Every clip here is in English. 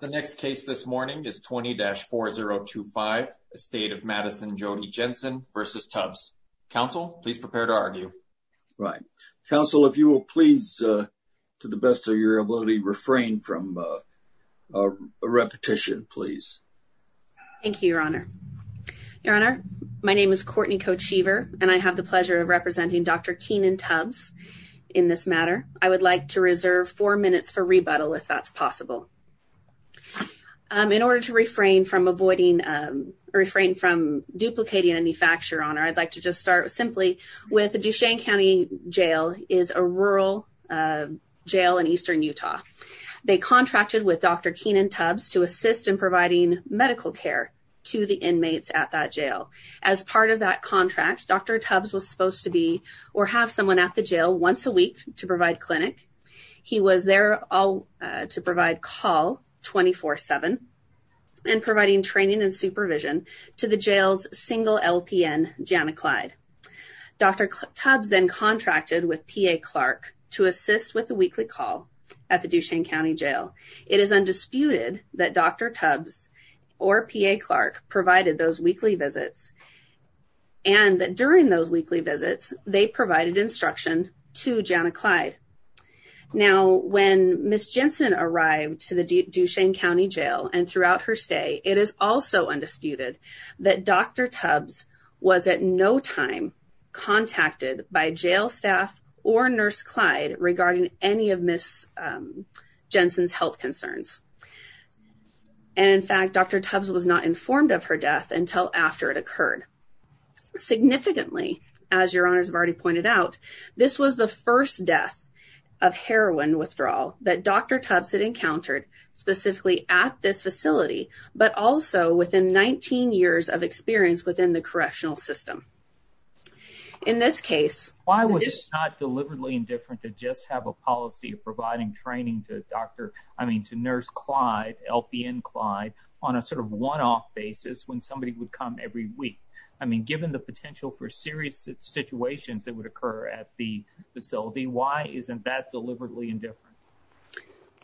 The next case this morning is 20-4025, Estate of Madison Jody Jensen v. Tubbs. Counsel, please prepare to argue. Right. Counsel, if you will please, to the best of your ability, refrain from a repetition, please. Thank you, Your Honor. Your Honor, my name is Courtney Cote Sheever, and I have the pleasure of representing Dr. Kenan Tubbs in this matter. I would like to reserve four minutes for rebuttal, if that's possible. In order to refrain from duplicating any facts, Your Honor, I'd like to just start simply with Duchesne County Jail is a rural jail in eastern Utah. They contracted with Dr. Kenan Tubbs to assist in providing medical care to the inmates at that jail. As part of that contract, Dr. Tubbs was supposed to be or have someone at the jail once a week to provide clinic. He was there to provide call 24-7 and providing training and supervision to the jail's single LPN, Jana Clyde. Dr. Tubbs then contracted with P.A. Clark to assist with the weekly call at the Duchesne County Jail. It is undisputed that Dr. Tubbs or P.A. Clark provided those weekly visits, and that during those weekly visits, they provided instruction to Jana Clyde. Now, when Ms. Jensen arrived to the Duchesne County Jail and throughout her stay, it is also undisputed that Dr. Tubbs was at no time contacted by jail staff or Nurse Clyde regarding any of Ms. Jensen's health concerns. And in fact, Dr. Tubbs was not informed of her death until after it occurred. Significantly, as Your Honors have already pointed out, this was the first death of heroin withdrawal that Dr. Tubbs had encountered specifically at this facility, but also within 19 years of experience within the correctional system. In this case, why was it not deliberately indifferent to just have a policy of providing training to Nurse Clyde, LPN Clyde, on a sort of one-off basis when somebody would come every week? I mean, given the potential for serious situations that would occur at the facility, why isn't that deliberately indifferent?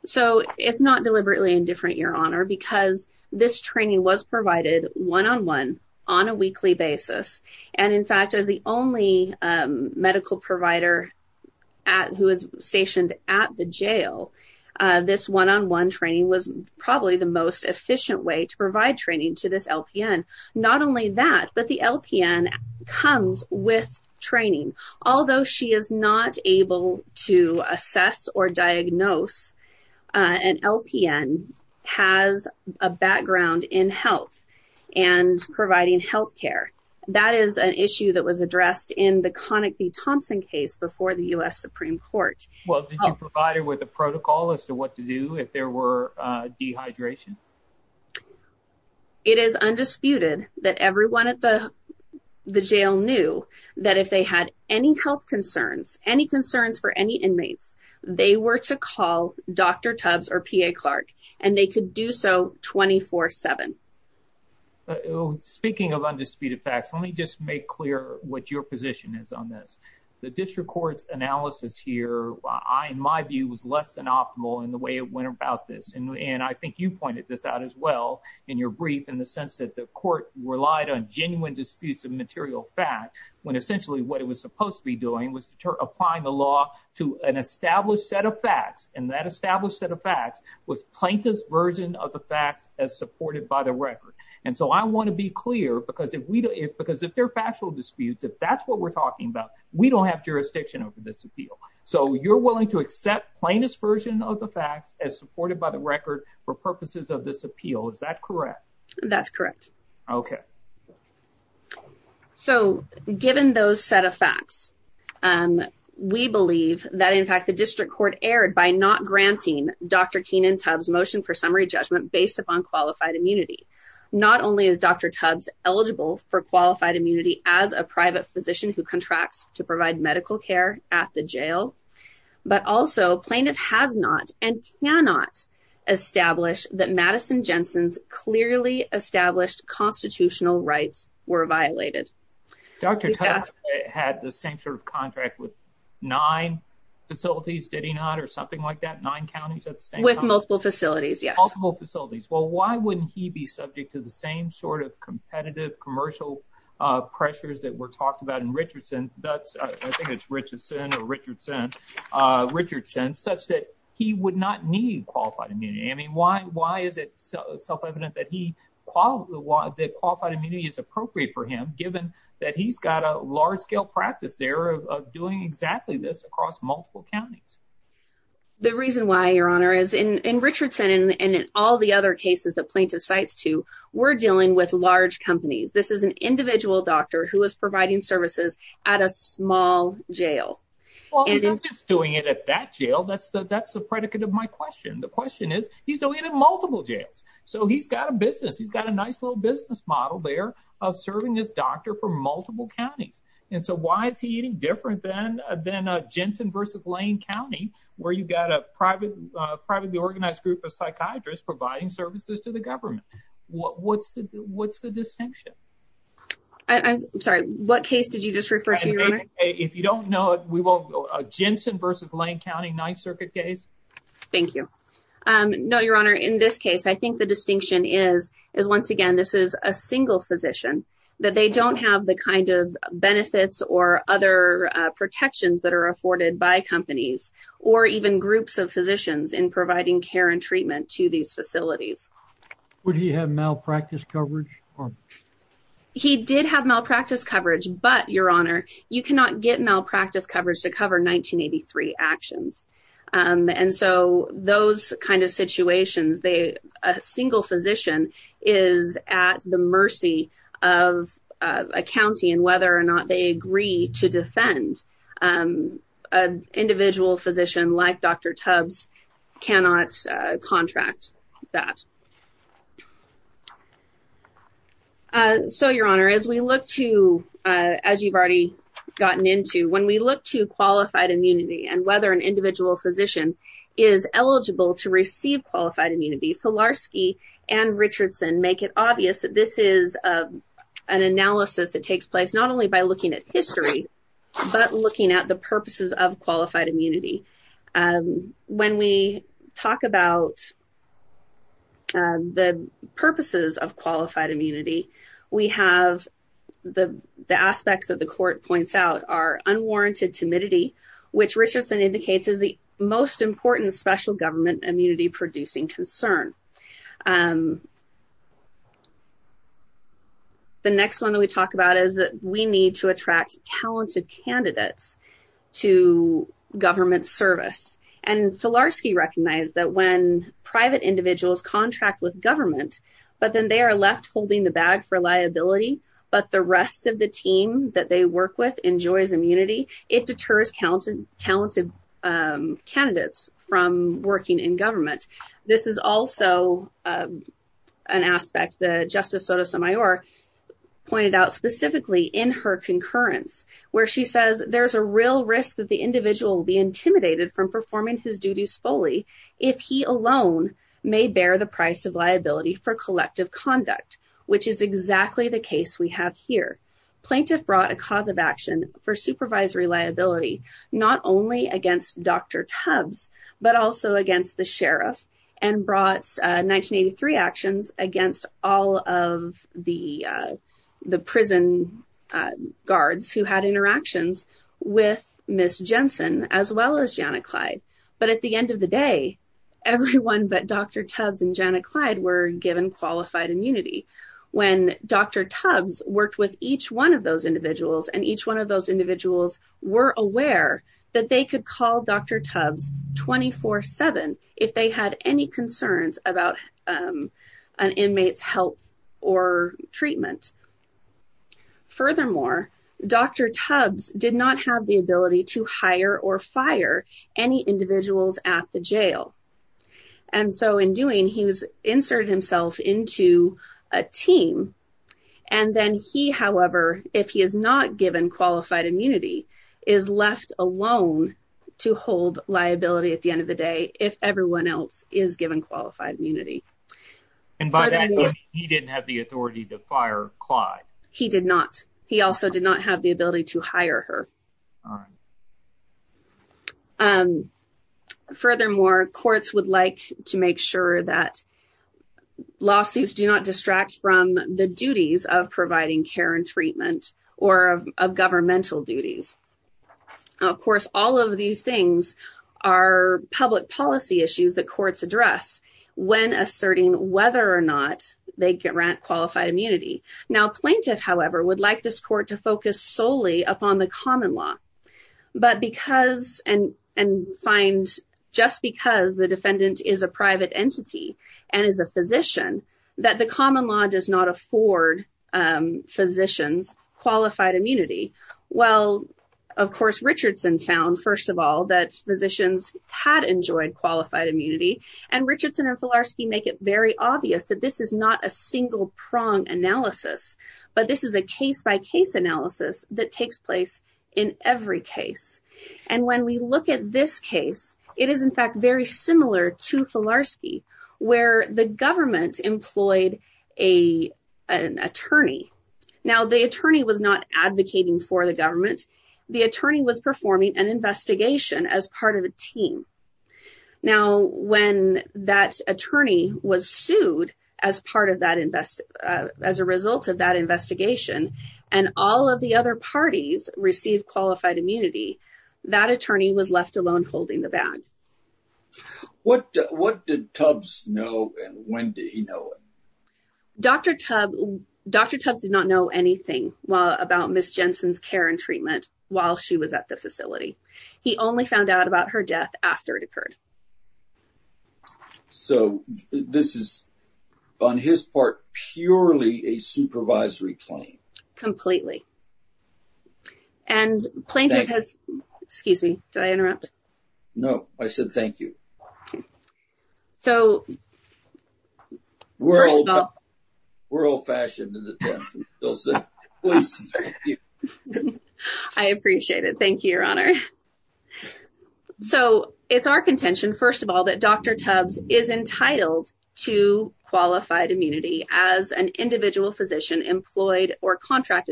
So, it's not deliberately indifferent, Your Honor, because this training was provided one-on-one on a weekly basis. And in fact, as the only medical provider who is stationed at the jail, this one-on-one training was probably the most efficient way to provide training to this LPN. Not only that, but the LPN comes with training. Although she is not able to assess or diagnose, an LPN has a background in health and providing health care. That is an issue that was addressed in the Connick v. Thompson case before the U.S. Supreme Court. Well, did you provide her with a protocol as to what to do if there were dehydration? It is undisputed that everyone at the jail knew that if they had any health concerns, any concerns for any inmates, they were to call Dr. Tubbs or PA Clark, and they could do so 24-7. Speaking of undisputed facts, let me just make clear what your position is on this. The district court's analysis here, in my view, was less than optimal in the way it went about this. I think you pointed this out as well in your brief, in the sense that the court relied on genuine disputes of material fact, when essentially what it was supposed to be doing was applying the law to an established set of facts. That established set of facts was plaintiff's version of the facts as supported by the record. I want to be clear, because if they're factual disputes, if that's what we're talking about, we don't have jurisdiction over this appeal. So you're willing to accept plaintiff's version of the facts as supported by the record for purposes of this appeal. Is that correct? That's correct. Okay. So given those set of facts, we believe that, in fact, the district court erred by not granting Dr. Keenan Tubbs' motion for summary judgment based upon qualified immunity. Not only is Dr. Tubbs eligible for qualified immunity as a private physician who contracts to provide medical care at the jail, but also plaintiff has not and cannot establish that Madison Jensen's clearly established constitutional rights were violated. Dr. Tubbs had the same sort of contract with nine facilities, did he not, or something like that? Nine counties at the same time? With multiple facilities, yes. Multiple facilities. Well, why wouldn't he be subject to the same sort of competitive commercial pressures that were talked about in Richardson? That's, I think it's Richard or Richardson, such that he would not need qualified immunity. I mean, why is it self-evident that qualified immunity is appropriate for him, given that he's got a large-scale practice there of doing exactly this across multiple counties? The reason why, Your Honor, is in Richardson and all the other cases that plaintiff cites to, we're dealing with large companies. This is an individual doctor who is providing services at a small jail. Well, he's not just doing it at that jail. That's the predicate of my question. The question is, he's doing it in multiple jails. So he's got a business. He's got a nice little business model there of serving his doctor for multiple counties. And so why is he any different than Jensen versus Lane County, where you've got a privately organized group of psychiatrists providing services to the government? What's the distinction? I'm sorry, what case did you just refer to, Your Honor? If you don't know, Jensen versus Lane County, Ninth Circuit case. Thank you. No, Your Honor, in this case, I think the distinction is, is once again, this is a single physician, that they don't have the kind of benefits or other protections that are afforded by companies or even groups of physicians in providing care and treatment to these facilities. Would he have malpractice coverage? He did have malpractice coverage, but Your Honor, you cannot get malpractice coverage to cover 1983 actions. And so those kinds of situations, a single physician is at the mercy of a county and whether or not they agree to defend an individual physician like Dr. Tubbs cannot contract that. So Your Honor, as we look to, as you've already gotten into, when we look to qualified immunity and whether an individual physician is eligible to receive qualified immunity, Solarski and Richardson make it obvious that this is an analysis that takes place not only by looking at history, but looking at the purposes of qualified immunity. When we talk about the purposes of qualified immunity, we have the aspects that the court points out are unwarranted timidity, which Richardson indicates is the most important special government immunity producing concern. The next one that we talk about is that we need to attract talented candidates to government service. And Solarski recognized that when private individuals contract with government, but then they are left holding the bag for liability, but the rest of the team that they is also an aspect that Justice Sotomayor pointed out specifically in her concurrence, where she says there's a real risk that the individual will be intimidated from performing his duties fully if he alone may bear the price of liability for collective conduct, which is exactly the case we have here. Plaintiff brought a cause of action for supervisory liability, not only against Dr. Tubbs, but also against the sheriff, and brought 1983 actions against all of the prison guards who had interactions with Ms. Jensen, as well as Janet Clyde. But at the end of the day, everyone but Dr. Tubbs and Janet Clyde were given qualified immunity. When Dr. Tubbs worked with each one of those individuals, and each one of those individuals were aware that they could call Dr. Tubbs 24-7 if they had any concerns about an inmate's health or treatment. Furthermore, Dr. Tubbs did not have the ability to hire or fire any individuals at the jail. And so in doing, he was inserted himself into a team. And then he, however, if he is not given qualified immunity, is left alone to hold liability at the end of the day, if everyone else is given qualified immunity. And by that, he didn't have the authority to fire Clyde. He did not. He also did not have the ability to hire her. Furthermore, courts would like to make sure that lawsuits do not distract from the duties of care and treatment or of governmental duties. Of course, all of these things are public policy issues that courts address when asserting whether or not they grant qualified immunity. Now plaintiff, however, would like this court to focus solely upon the common law. But because and find just because the defendant is a private entity, and is a physician, that the common law does not afford physicians qualified immunity. Well, of course, Richardson found, first of all, that physicians had enjoyed qualified immunity. And Richardson and Filarski make it very obvious that this is not a single prong analysis. But this is a case by case analysis that takes place in every case. And when we look at this case, it is in fact very similar to Filarski, where the government employed an attorney. Now, the attorney was not advocating for the government. The attorney was performing an investigation as part of a team. Now, when that attorney was sued as part of that invest, as a result of that investigation, and all of the other parties receive qualified immunity, that attorney was left alone holding the bag. What did Tubbs know? And when did he know it? Dr. Tubbs did not know anything about Ms. Jensen's care and treatment while she was at the facility. He only found out about her death after it occurred. So this is on his part, purely a supervisory claim? Completely. And plaintiff has, excuse me, did I interrupt? No, I said thank you. So, we're old-fashioned. I appreciate it. Thank you, Your Honor. So, it's our contention, first of all, that Dr. Tubbs is contracted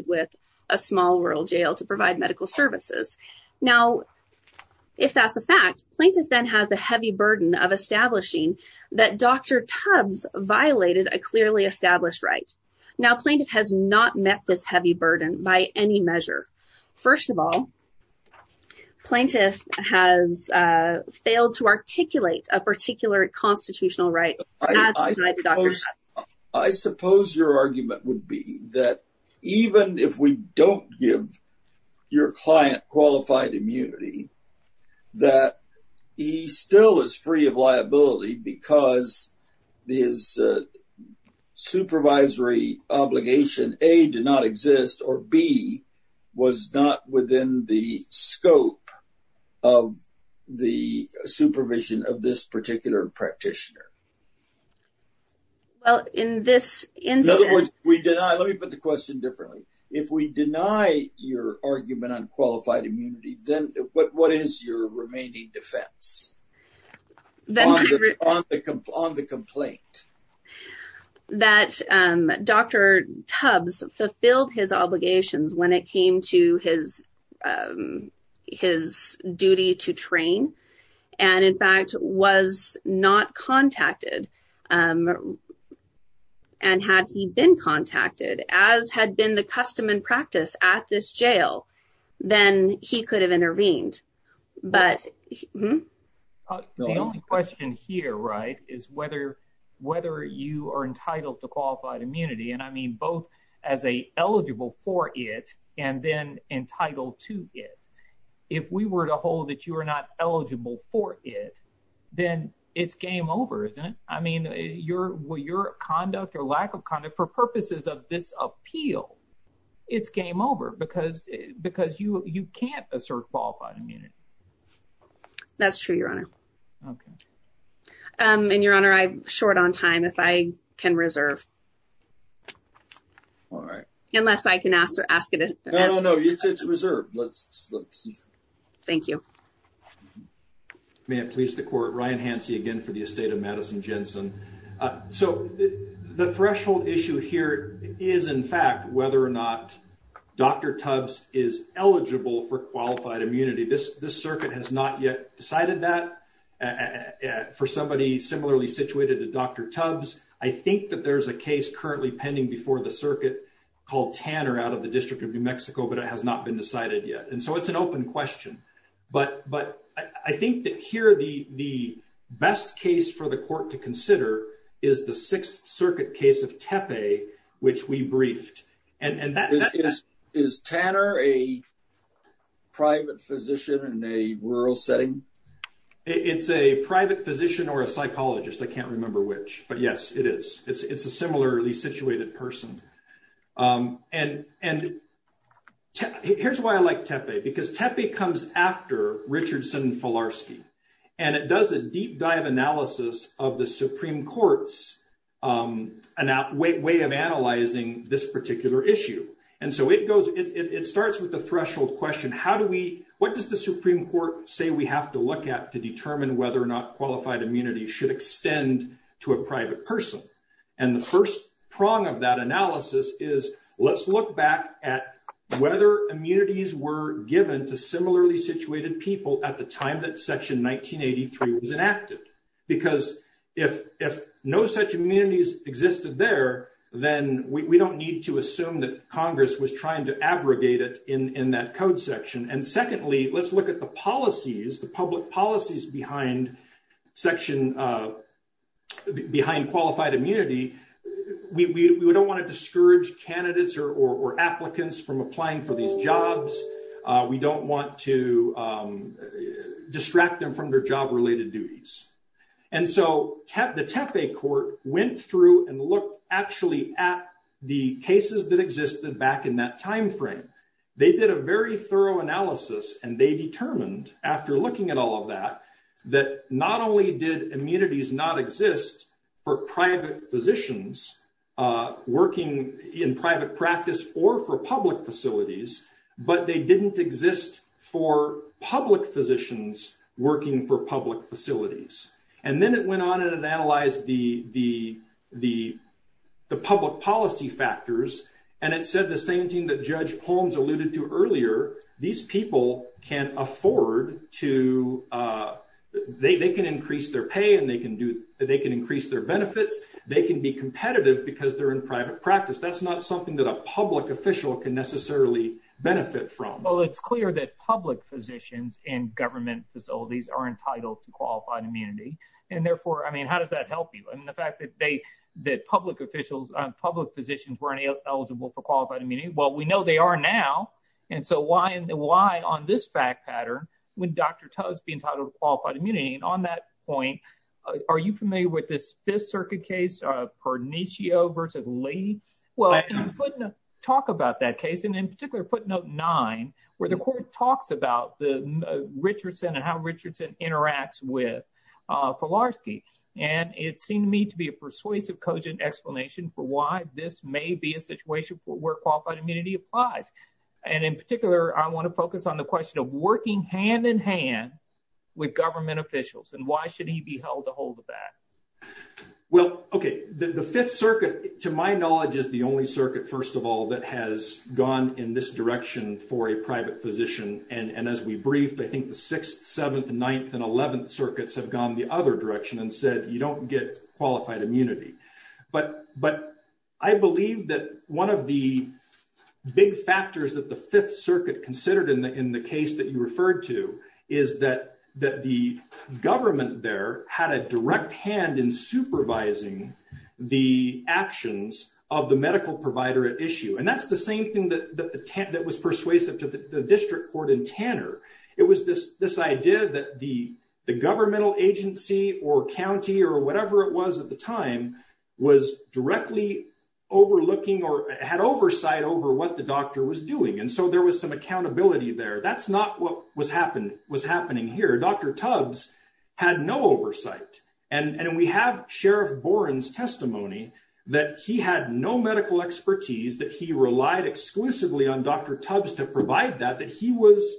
with a small rural jail to provide medical services. Now, if that's a fact, plaintiff then has the heavy burden of establishing that Dr. Tubbs violated a clearly established right. Now, plaintiff has not met this heavy burden by any measure. First of all, plaintiff has failed to articulate a particular constitutional right. I suppose your argument would be that even if we don't give your client qualified immunity, that he still is free of liability because his supervisory obligation, A, did not exist, or B, was not within the scope of the supervision of this particular practitioner. Well, in this instance... In other words, we deny... Let me put the question differently. If we deny your argument on qualified immunity, then what is your remaining defense on the complaint? That Dr. Tubbs fulfilled his obligations when it came to his duty to train and, in fact, was not contacted. And had he been contacted as had been the custom and practice at this jail, then he could have intervened. But... The only question here, right, is whether you are entitled to qualified immunity. And I mean, both as an eligible for it and then entitled to it. If we were to hold that you are not eligible for it, then it's game over, isn't it? I mean, your conduct or lack of conduct for purposes of this appeal, it's game over because you can't assert qualified immunity. That's true, your honor. And your honor, I'm short on time if I can reserve. All right. Unless I can ask or ask it... No, no, no. It's reserved. Let's... Thank you. May it please the court. Ryan Hansey again for the estate of Madison Jensen. So, the threshold issue here is, in fact, whether or not Dr. Tubbs is eligible for qualified immunity. This circuit has not yet decided that. For somebody similarly situated to Dr. Tubbs, I think that there's a case currently pending before the circuit called Tanner out of the District of New Mexico, but it has not been decided yet. And so it's an open question. But I think that here the best case for the court to consider is the Sixth Circuit case of Tepe, which we briefed. And that... Is Tanner a private physician in a rural setting? It's a private physician or a psychologist. I can't remember which, but yes, it is. It's a similarly situated person. And here's why I like Tepe, because Tepe comes after Richardson-Falarski, and it does a deep dive analysis of the Supreme Court's way of analyzing this particular issue. And so it goes... It starts with the threshold question, what does the Supreme Court say we have to look at to determine whether or not qualified immunity should extend to a private person? And the first prong of that analysis is, let's look back at whether immunities were given to similarly situated people at the time that Section 1983 was enacted. Because if no such immunities existed there, then we don't need to assume that Congress was trying to abrogate it in that code section. And secondly, let's look at the policies, the public policies behind qualified immunity. We don't want to discourage candidates or applicants from applying for these jobs. We don't want to distract them from their cases that existed back in that timeframe. They did a very thorough analysis and they determined after looking at all of that, that not only did immunities not exist for private physicians working in private practice or for public facilities, but they didn't exist for public physicians working for public facilities. And then it went on and it analyzed the public policy factors. And it said the same thing that Judge Holmes alluded to earlier, these people can afford to, they can increase their pay and they can do, they can increase their benefits. They can be competitive because they're in private practice. That's not something that a public official can necessarily benefit from. Well, it's clear that public physicians in government facilities are entitled to qualified immunity. And therefore, I mean, how does that help you? I mean, the fact that they, that public officials, public physicians weren't eligible for qualified immunity. Well, we know they are now. And so why, why on this fact pattern, would Dr. Tuz be entitled to qualified immunity? And on that point, are you familiar with this fifth circuit case, Perniccio versus Lee? Well, I'm going to talk about that case and in particular, footnote nine, where the court talks about the Richardson and how Richardson interacts with And it seemed to me to be a persuasive cogent explanation for why this may be a situation where qualified immunity applies. And in particular, I want to focus on the question of working hand in hand with government officials and why should he be held to hold of that? Well, okay. The fifth circuit, to my knowledge, is the only circuit, first of all, that has gone in this direction for a private physician. And as we briefed, I think the sixth, seventh, ninth, and 11th circuits have gone the other direction and said, you don't get qualified immunity. But, but I believe that one of the big factors that the fifth circuit considered in the, in the case that you referred to is that, that the government there had a direct hand in supervising the actions of the medical provider at issue. And that's the same thing that, that the, that was persuasive to the district court in Tanner. It was this, this idea that the governmental agency or county or whatever it was at the time was directly overlooking or had oversight over what the doctor was doing. And so there was some accountability there. That's not what was happening, was happening here. Dr. Tubbs had no oversight. And we have Sheriff Boren's testimony that he had no medical expertise, that he relied exclusively on Dr. Tubbs to provide that, that he was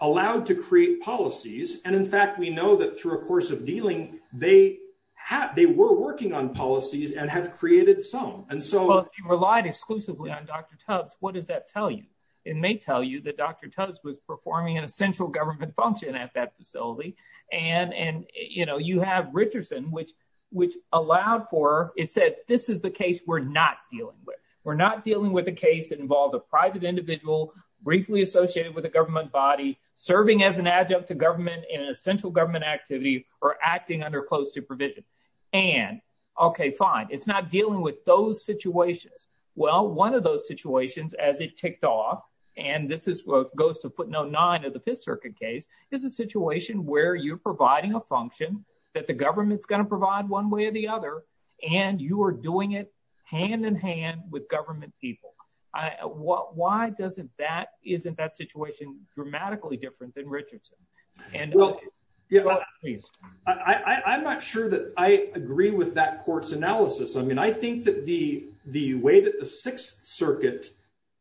allowed to create policies. And in fact, we know that through a course of dealing, they have, they were working on policies and have created some. And so- Well, if he relied exclusively on Dr. Tubbs, what does that tell you? It may tell you that Dr. Tubbs was performing an essential government function at that facility. And, and, you know, which, which allowed for, it said, this is the case we're not dealing with. We're not dealing with a case that involved a private individual briefly associated with a government body serving as an adjunct to government in an essential government activity or acting under closed supervision. And okay, fine. It's not dealing with those situations. Well, one of those situations as it ticked off, and this is what goes to footnote nine of the Fifth Circuit case, is a situation where you're providing a function that the government's going to provide one way or the other, and you are doing it hand in hand with government people. Why doesn't that, isn't that situation dramatically different than Richardson? I'm not sure that I agree with that court's analysis. I mean, I think that the, the way the Sixth Circuit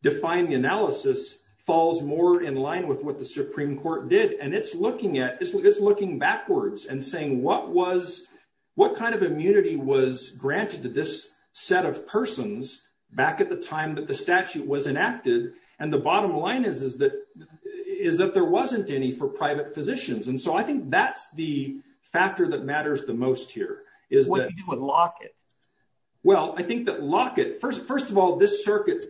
defined the analysis falls more in line with what the Supreme Court did. And it's looking at, it's looking backwards and saying, what was, what kind of immunity was granted to this set of persons back at the time that the statute was enacted? And the bottom line is, is that, is that there wasn't any for private physicians. And so I think that's the factor that this circuit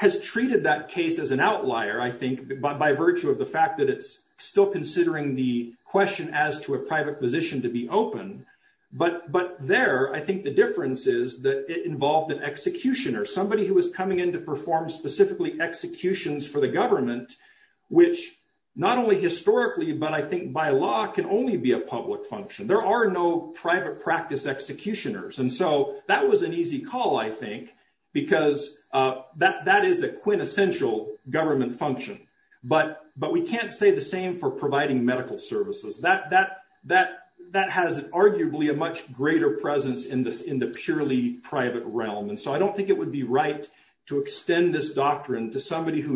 has treated that case as an outlier, I think, by virtue of the fact that it's still considering the question as to a private physician to be open. But, but there, I think the difference is that it involved an executioner, somebody who was coming in to perform specifically executions for the government, which not only historically, but I think by law can only be a public function. There are no private practice executioners. And so that was an easy call, I think, because that is a quintessential government function. But, but we can't say the same for providing medical services. That, that, that, that has arguably a much greater presence in this, in the purely private realm. And so I don't think it would be right to extend this doctrine to somebody who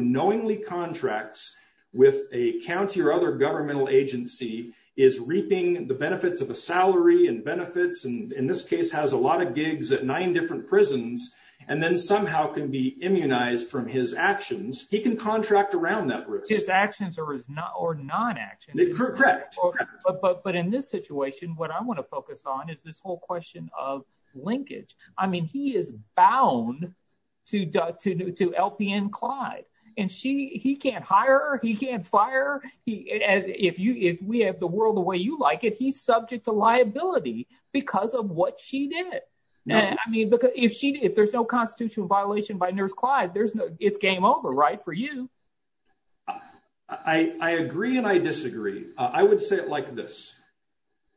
benefits, and in this case, has a lot of gigs at nine different prisons, and then somehow can be immunized from his actions. He can contract around that risk. His actions or his not, or non-actions. Correct. But in this situation, what I want to focus on is this whole question of linkage. I mean, he is bound to, to, to LPN Clyde, and she, he can't hire, he can't fire, he, as if you, if we have the world the way you like it, he's subject to liability because of what she did. Now, I mean, because if she, if there's no constitutional violation by Nurse Clyde, there's no, it's game over, right? For you. I agree. And I disagree. I would say it like this.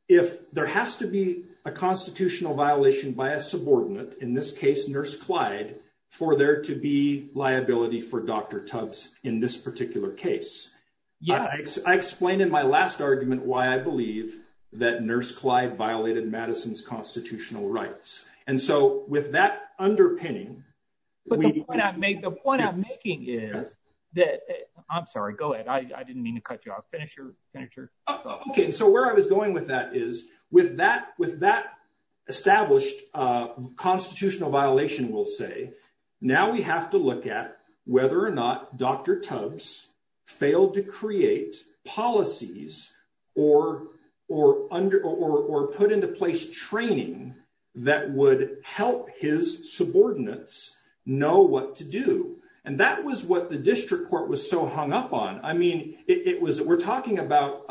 If there has to be a constitutional violation by a subordinate, in this case, Nurse Clyde, for there to be liability for Dr. Tubbs in this particular case. Yeah. I explained in my last argument why I believe that Nurse Clyde violated Madison's constitutional rights. And so with that underpinning. But the point I make, the point I'm making is that, I'm sorry, go ahead. I didn't mean to cut you off. Finish your, finish your. Okay. So where I was going with that is, with that, established constitutional violation, we'll say, now we have to look at whether or not Dr. Tubbs failed to create policies or, or under, or put into place training that would help his subordinates know what to do. And that was what the district court was so hung up on. I mean, it was, we're talking about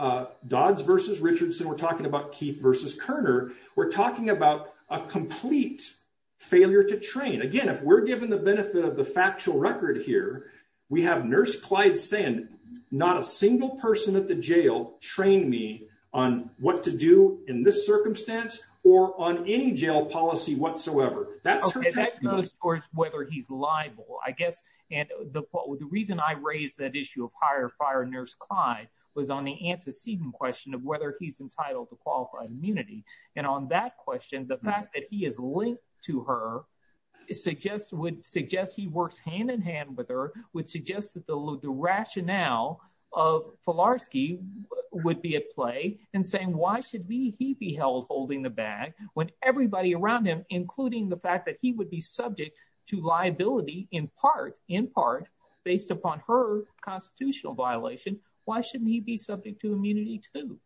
Keith versus Kerner. We're talking about a complete failure to train. Again, if we're given the benefit of the factual record here, we have Nurse Clyde saying, not a single person at the jail trained me on what to do in this circumstance or on any jail policy whatsoever. That's whether he's liable, I guess. And the, the reason I raised that issue of higher fire Nurse Clyde was on the antecedent question of whether he's entitled to qualified immunity. And on that question, the fact that he is linked to her, it suggests, would suggest he works hand in hand with her, would suggest that the rationale of Filarski would be at play and saying, why should we, he be held holding the bag when everybody around him, including the fact that he would be Why shouldn't he be subject to immunity too?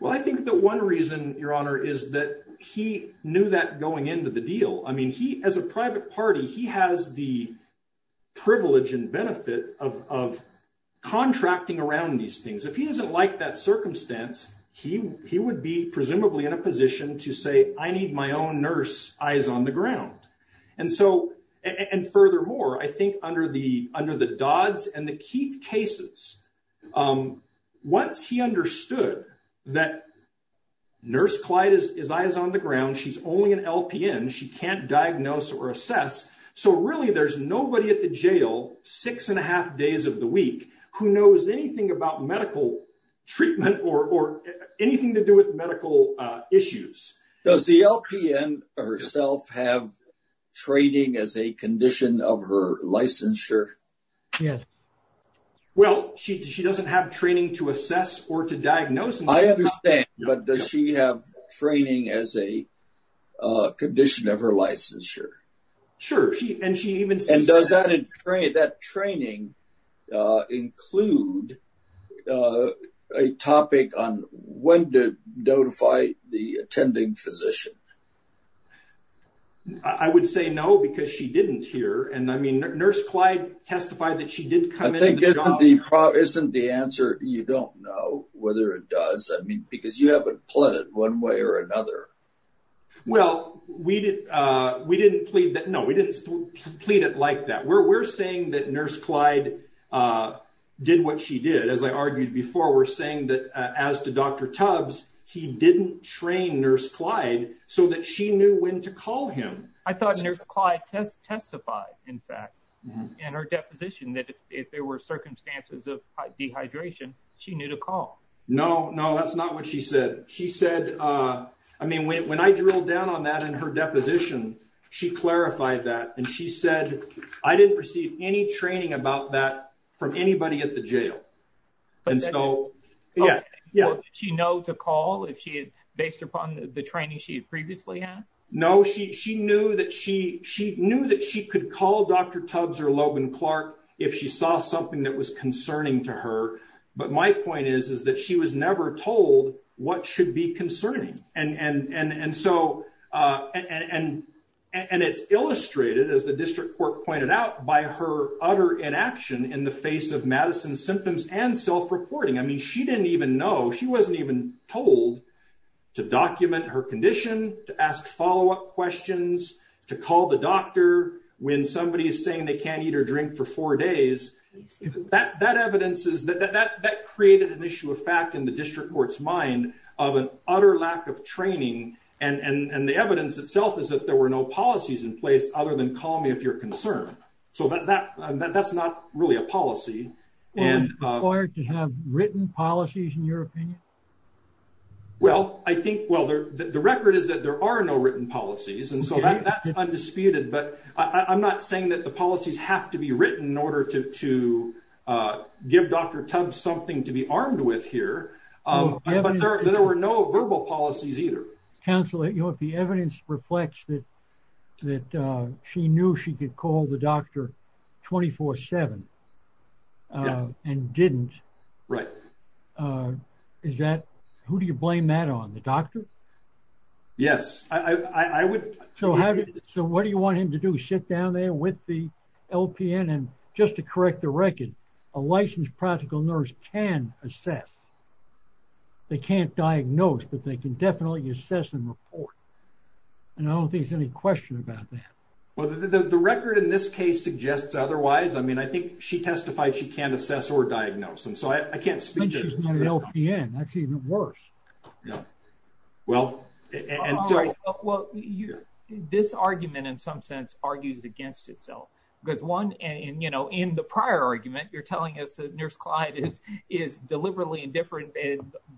Well, I think that one reason your honor is that he knew that going into the deal. I mean, he, as a private party, he has the privilege and benefit of, of contracting around these things. If he doesn't like that circumstance, he, he would be presumably in a position to say, I need my own nurse eyes on the ground. And so, and furthermore, I think under under the Dodds and the Keith cases, once he understood that Nurse Clyde is eyes on the ground, she's only an LPN, she can't diagnose or assess. So really there's nobody at the jail, six and a half days of the week who knows anything about medical treatment or anything to do with Yes. Well, she, she doesn't have training to assess or to diagnose. I understand, but does she have training as a condition of her licensure? Sure. She, and she even, and does that train that training include a topic on when to notify the attending physician? I would say no, because she didn't hear. And I mean, Nurse Clyde testified that she did come in. Isn't the answer, you don't know whether it does. I mean, because you haven't pleaded one way or another. Well, we did. We didn't plead that. No, we didn't plead it like that. We're, we're saying that Nurse Clyde did what she did. As I argued before, we're saying that as to Dr. Tubbs, he didn't train Nurse Clyde so that she knew when to call him. I thought Nurse Clyde test, testified in fact, in her deposition that if there were circumstances of dehydration, she knew to call. No, no, that's not what she said. She said I mean, when I drilled down on that in her deposition, she clarified that and she said, I didn't receive any training about that from anybody at the jail. And so yeah, yeah, she know to call if she had based upon the training she had previously had. No, she, she knew that she, she knew that she could call Dr. Tubbs or Logan Clark if she saw something that was concerning to her. But my point is, is that she was never told what should be concerning. And, and, and, and so, and, and, and it's illustrated as the district court pointed out by her utter inaction in the face of Madison's symptoms and self-reporting. I mean, she didn't even know, she wasn't even told to document her condition, to ask follow-up questions, to call the doctor when somebody is saying they can't eat or drink for four days. That, that evidence is that, that, that, that created an issue of fact in the district court's mind of an utter lack of training. And, and, and the evidence itself is that there were no policies in place other than call me if you're concerned. So that, that, that, that's not really a policy and required to have written policies in your opinion. Well, I think, well, there, the record is that there are no written policies. And so that's undisputed, but I'm not saying that the policies have to be written in order to, to give Dr. Tubbs something to be armed with here. There were no verbal policies either. Counselor, you know, if the evidence reflects that, that she knew she could call the doctor 24 seven and didn't. Right. Is that, who do you blame that on? The doctor? Yes. I, I, I would. So how did, so what do you want him to do? Sit down there with the LPN and just to correct the record, a licensed practical nurse can assess, they can't diagnose, but they can definitely assess and report. And I don't think there's any question about that. Well, the, the record in this case suggests otherwise. I mean, I think she testified, she can't assess or diagnose. And so I can't speak to the LPN. That's even worse. Yeah. Well, and sorry. Well, you're this argument in some sense argues against itself because one, and you know, in the prior argument, you're telling us that is deliberately indifferent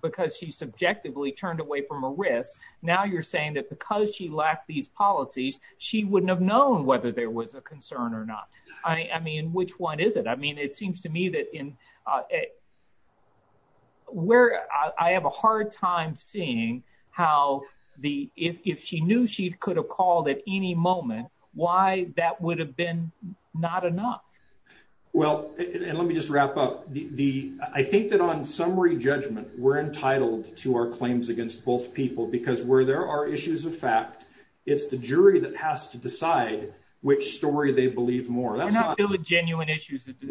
because she's subjectively turned away from a risk. Now you're saying that because she lacked these policies, she wouldn't have known whether there was a concern or not. I mean, which one is it? I mean, it seems to me that in where I have a hard time seeing how the, if, if she knew she could have called at any moment, why that would have been not enough. Well, and let me just wrap up the, the, I think that on summary judgment, we're entitled to our claims against both people, because where there are issues of fact, it's the jury that has to decide which story they believe more. That's not a genuine issues. It's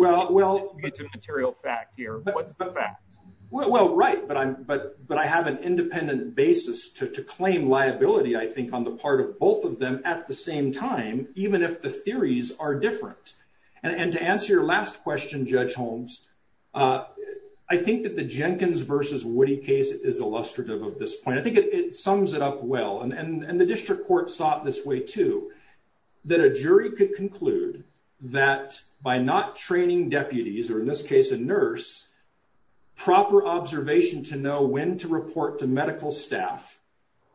a material fact here. What's the fact? Well, right. But I'm, but, but I have an independent basis to claim liability. I think on the part of both of them at the same time, even if the theories are different. And to answer your last question, judge Holmes I think that the Jenkins versus Woody case is illustrative of this point. I think it sums it up well. And the district court sought this way too, that a jury could conclude that by not training deputies, or in this case, a nurse, proper observation to know when to report to medical staff,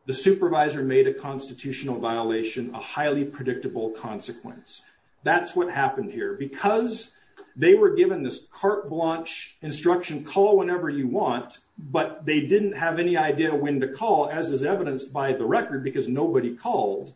the supervisor made a constitutional violation, a highly predictable consequence. That's what happened here because they were given this carte blanche instruction, call whenever you want, but they didn't have any idea when to call as is evidenced by the record, because nobody called.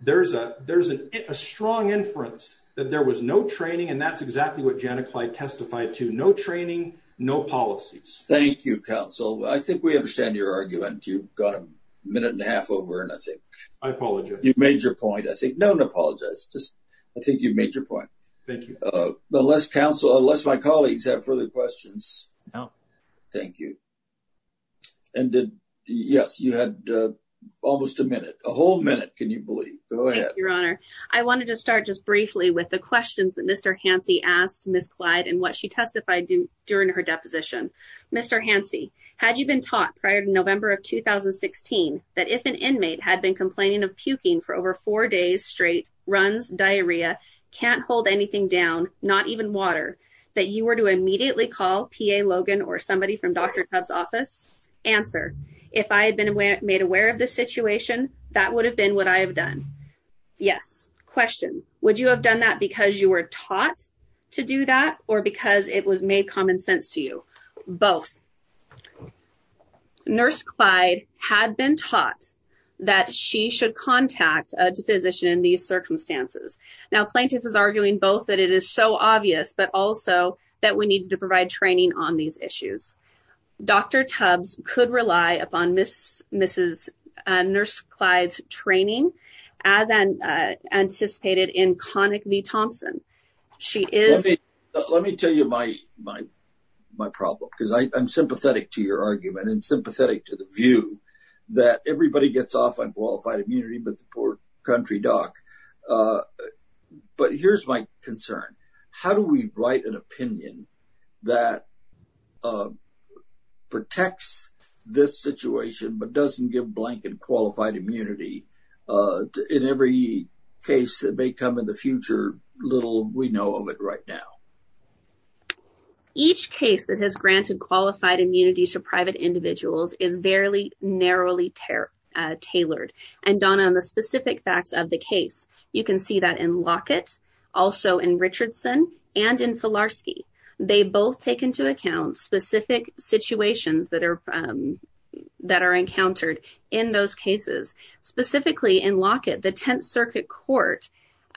There's a, there's a strong inference that there was no training. And that's exactly what Janet Clyde testified to no training, no policies. Thank you counsel. I think we understand your argument. You've got a minute and a half over. And I think I apologize. You've made your point. I think, no, no, apologize. Just, I think you've made your point. Thank you. But unless counsel, unless my colleagues have further questions. Thank you. And yes, you had almost a minute, a whole minute. Can you believe your honor? I wanted to start just briefly with the questions that Mr. Hansi asked Ms. Clyde and what she testified to during her deposition. Mr. Hansi, had you been taught prior to November of 2016, that if an inmate had been complaining of puking for over four days straight, runs, diarrhea, can't hold anything down, not even water, that you were to immediately call PA Logan or somebody from Dr. Tubbs office? Answer. If I had been made aware of this situation, that would have been what I have done. Yes. Question. Would you have done that because you were taught to do that or because it was made common sense to you? Both. Nurse Clyde had been taught that she should contact a physician in these circumstances. Now, plaintiff is arguing both that it is so obvious, but also that we need to provide training on these issues. Dr. Tubbs could rely upon Ms. Nurse Clyde's training as anticipated in Connick v. Thompson. Let me tell you my problem because I'm sympathetic to your argument and sympathetic to the view that everybody gets off on qualified immunity, but the poor country doc. But here's my concern. How do we write an opinion that protects this situation, but doesn't give blank and qualified immunity in every case that may come in the future? Little we know of it right now. Each case that has granted qualified immunity to private individuals is fairly narrowly tailored. And Donna, on the specific facts of the case, you can see that in Lockett, also in Richardson and in Filarski. They both take into account specific situations that are encountered in those cases. Specifically in Lockett, the Tenth Circuit Court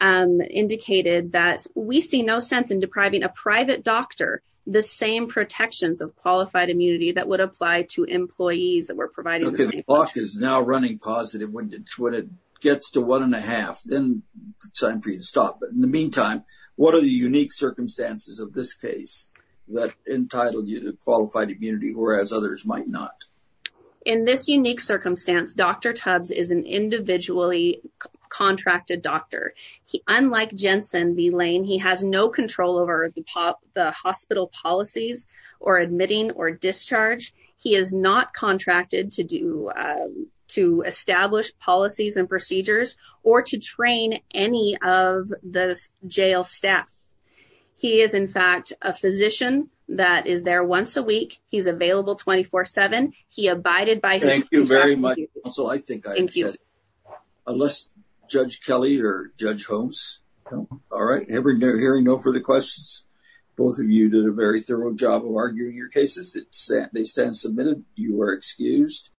indicated that we see no sense in depriving a private doctor the same protections of qualified immunity that would apply to employees that were provided. Okay, the clock is now running positive. When it gets to one and a half, then it's time for you to stop. But in the meantime, what are the unique circumstances of this case that entitled you to qualified immunity, whereas others might not? In this unique circumstance, Dr. Tubbs is an individually contracted doctor. Unlike Jensen B. Lane, he has no control over the hospital policies or admitting or discharge. He is not contracted to establish policies and procedures or to train any of the jail staff. He is, in fact, a physician that is there once a week. He's available 24-7. He abided by... Thank you very much. Also, I think I unless Judge Kelly or Judge Holmes. All right, hearing no further questions. Both of you did a very thorough job of arguing your cases. They stand submitted. You are excused.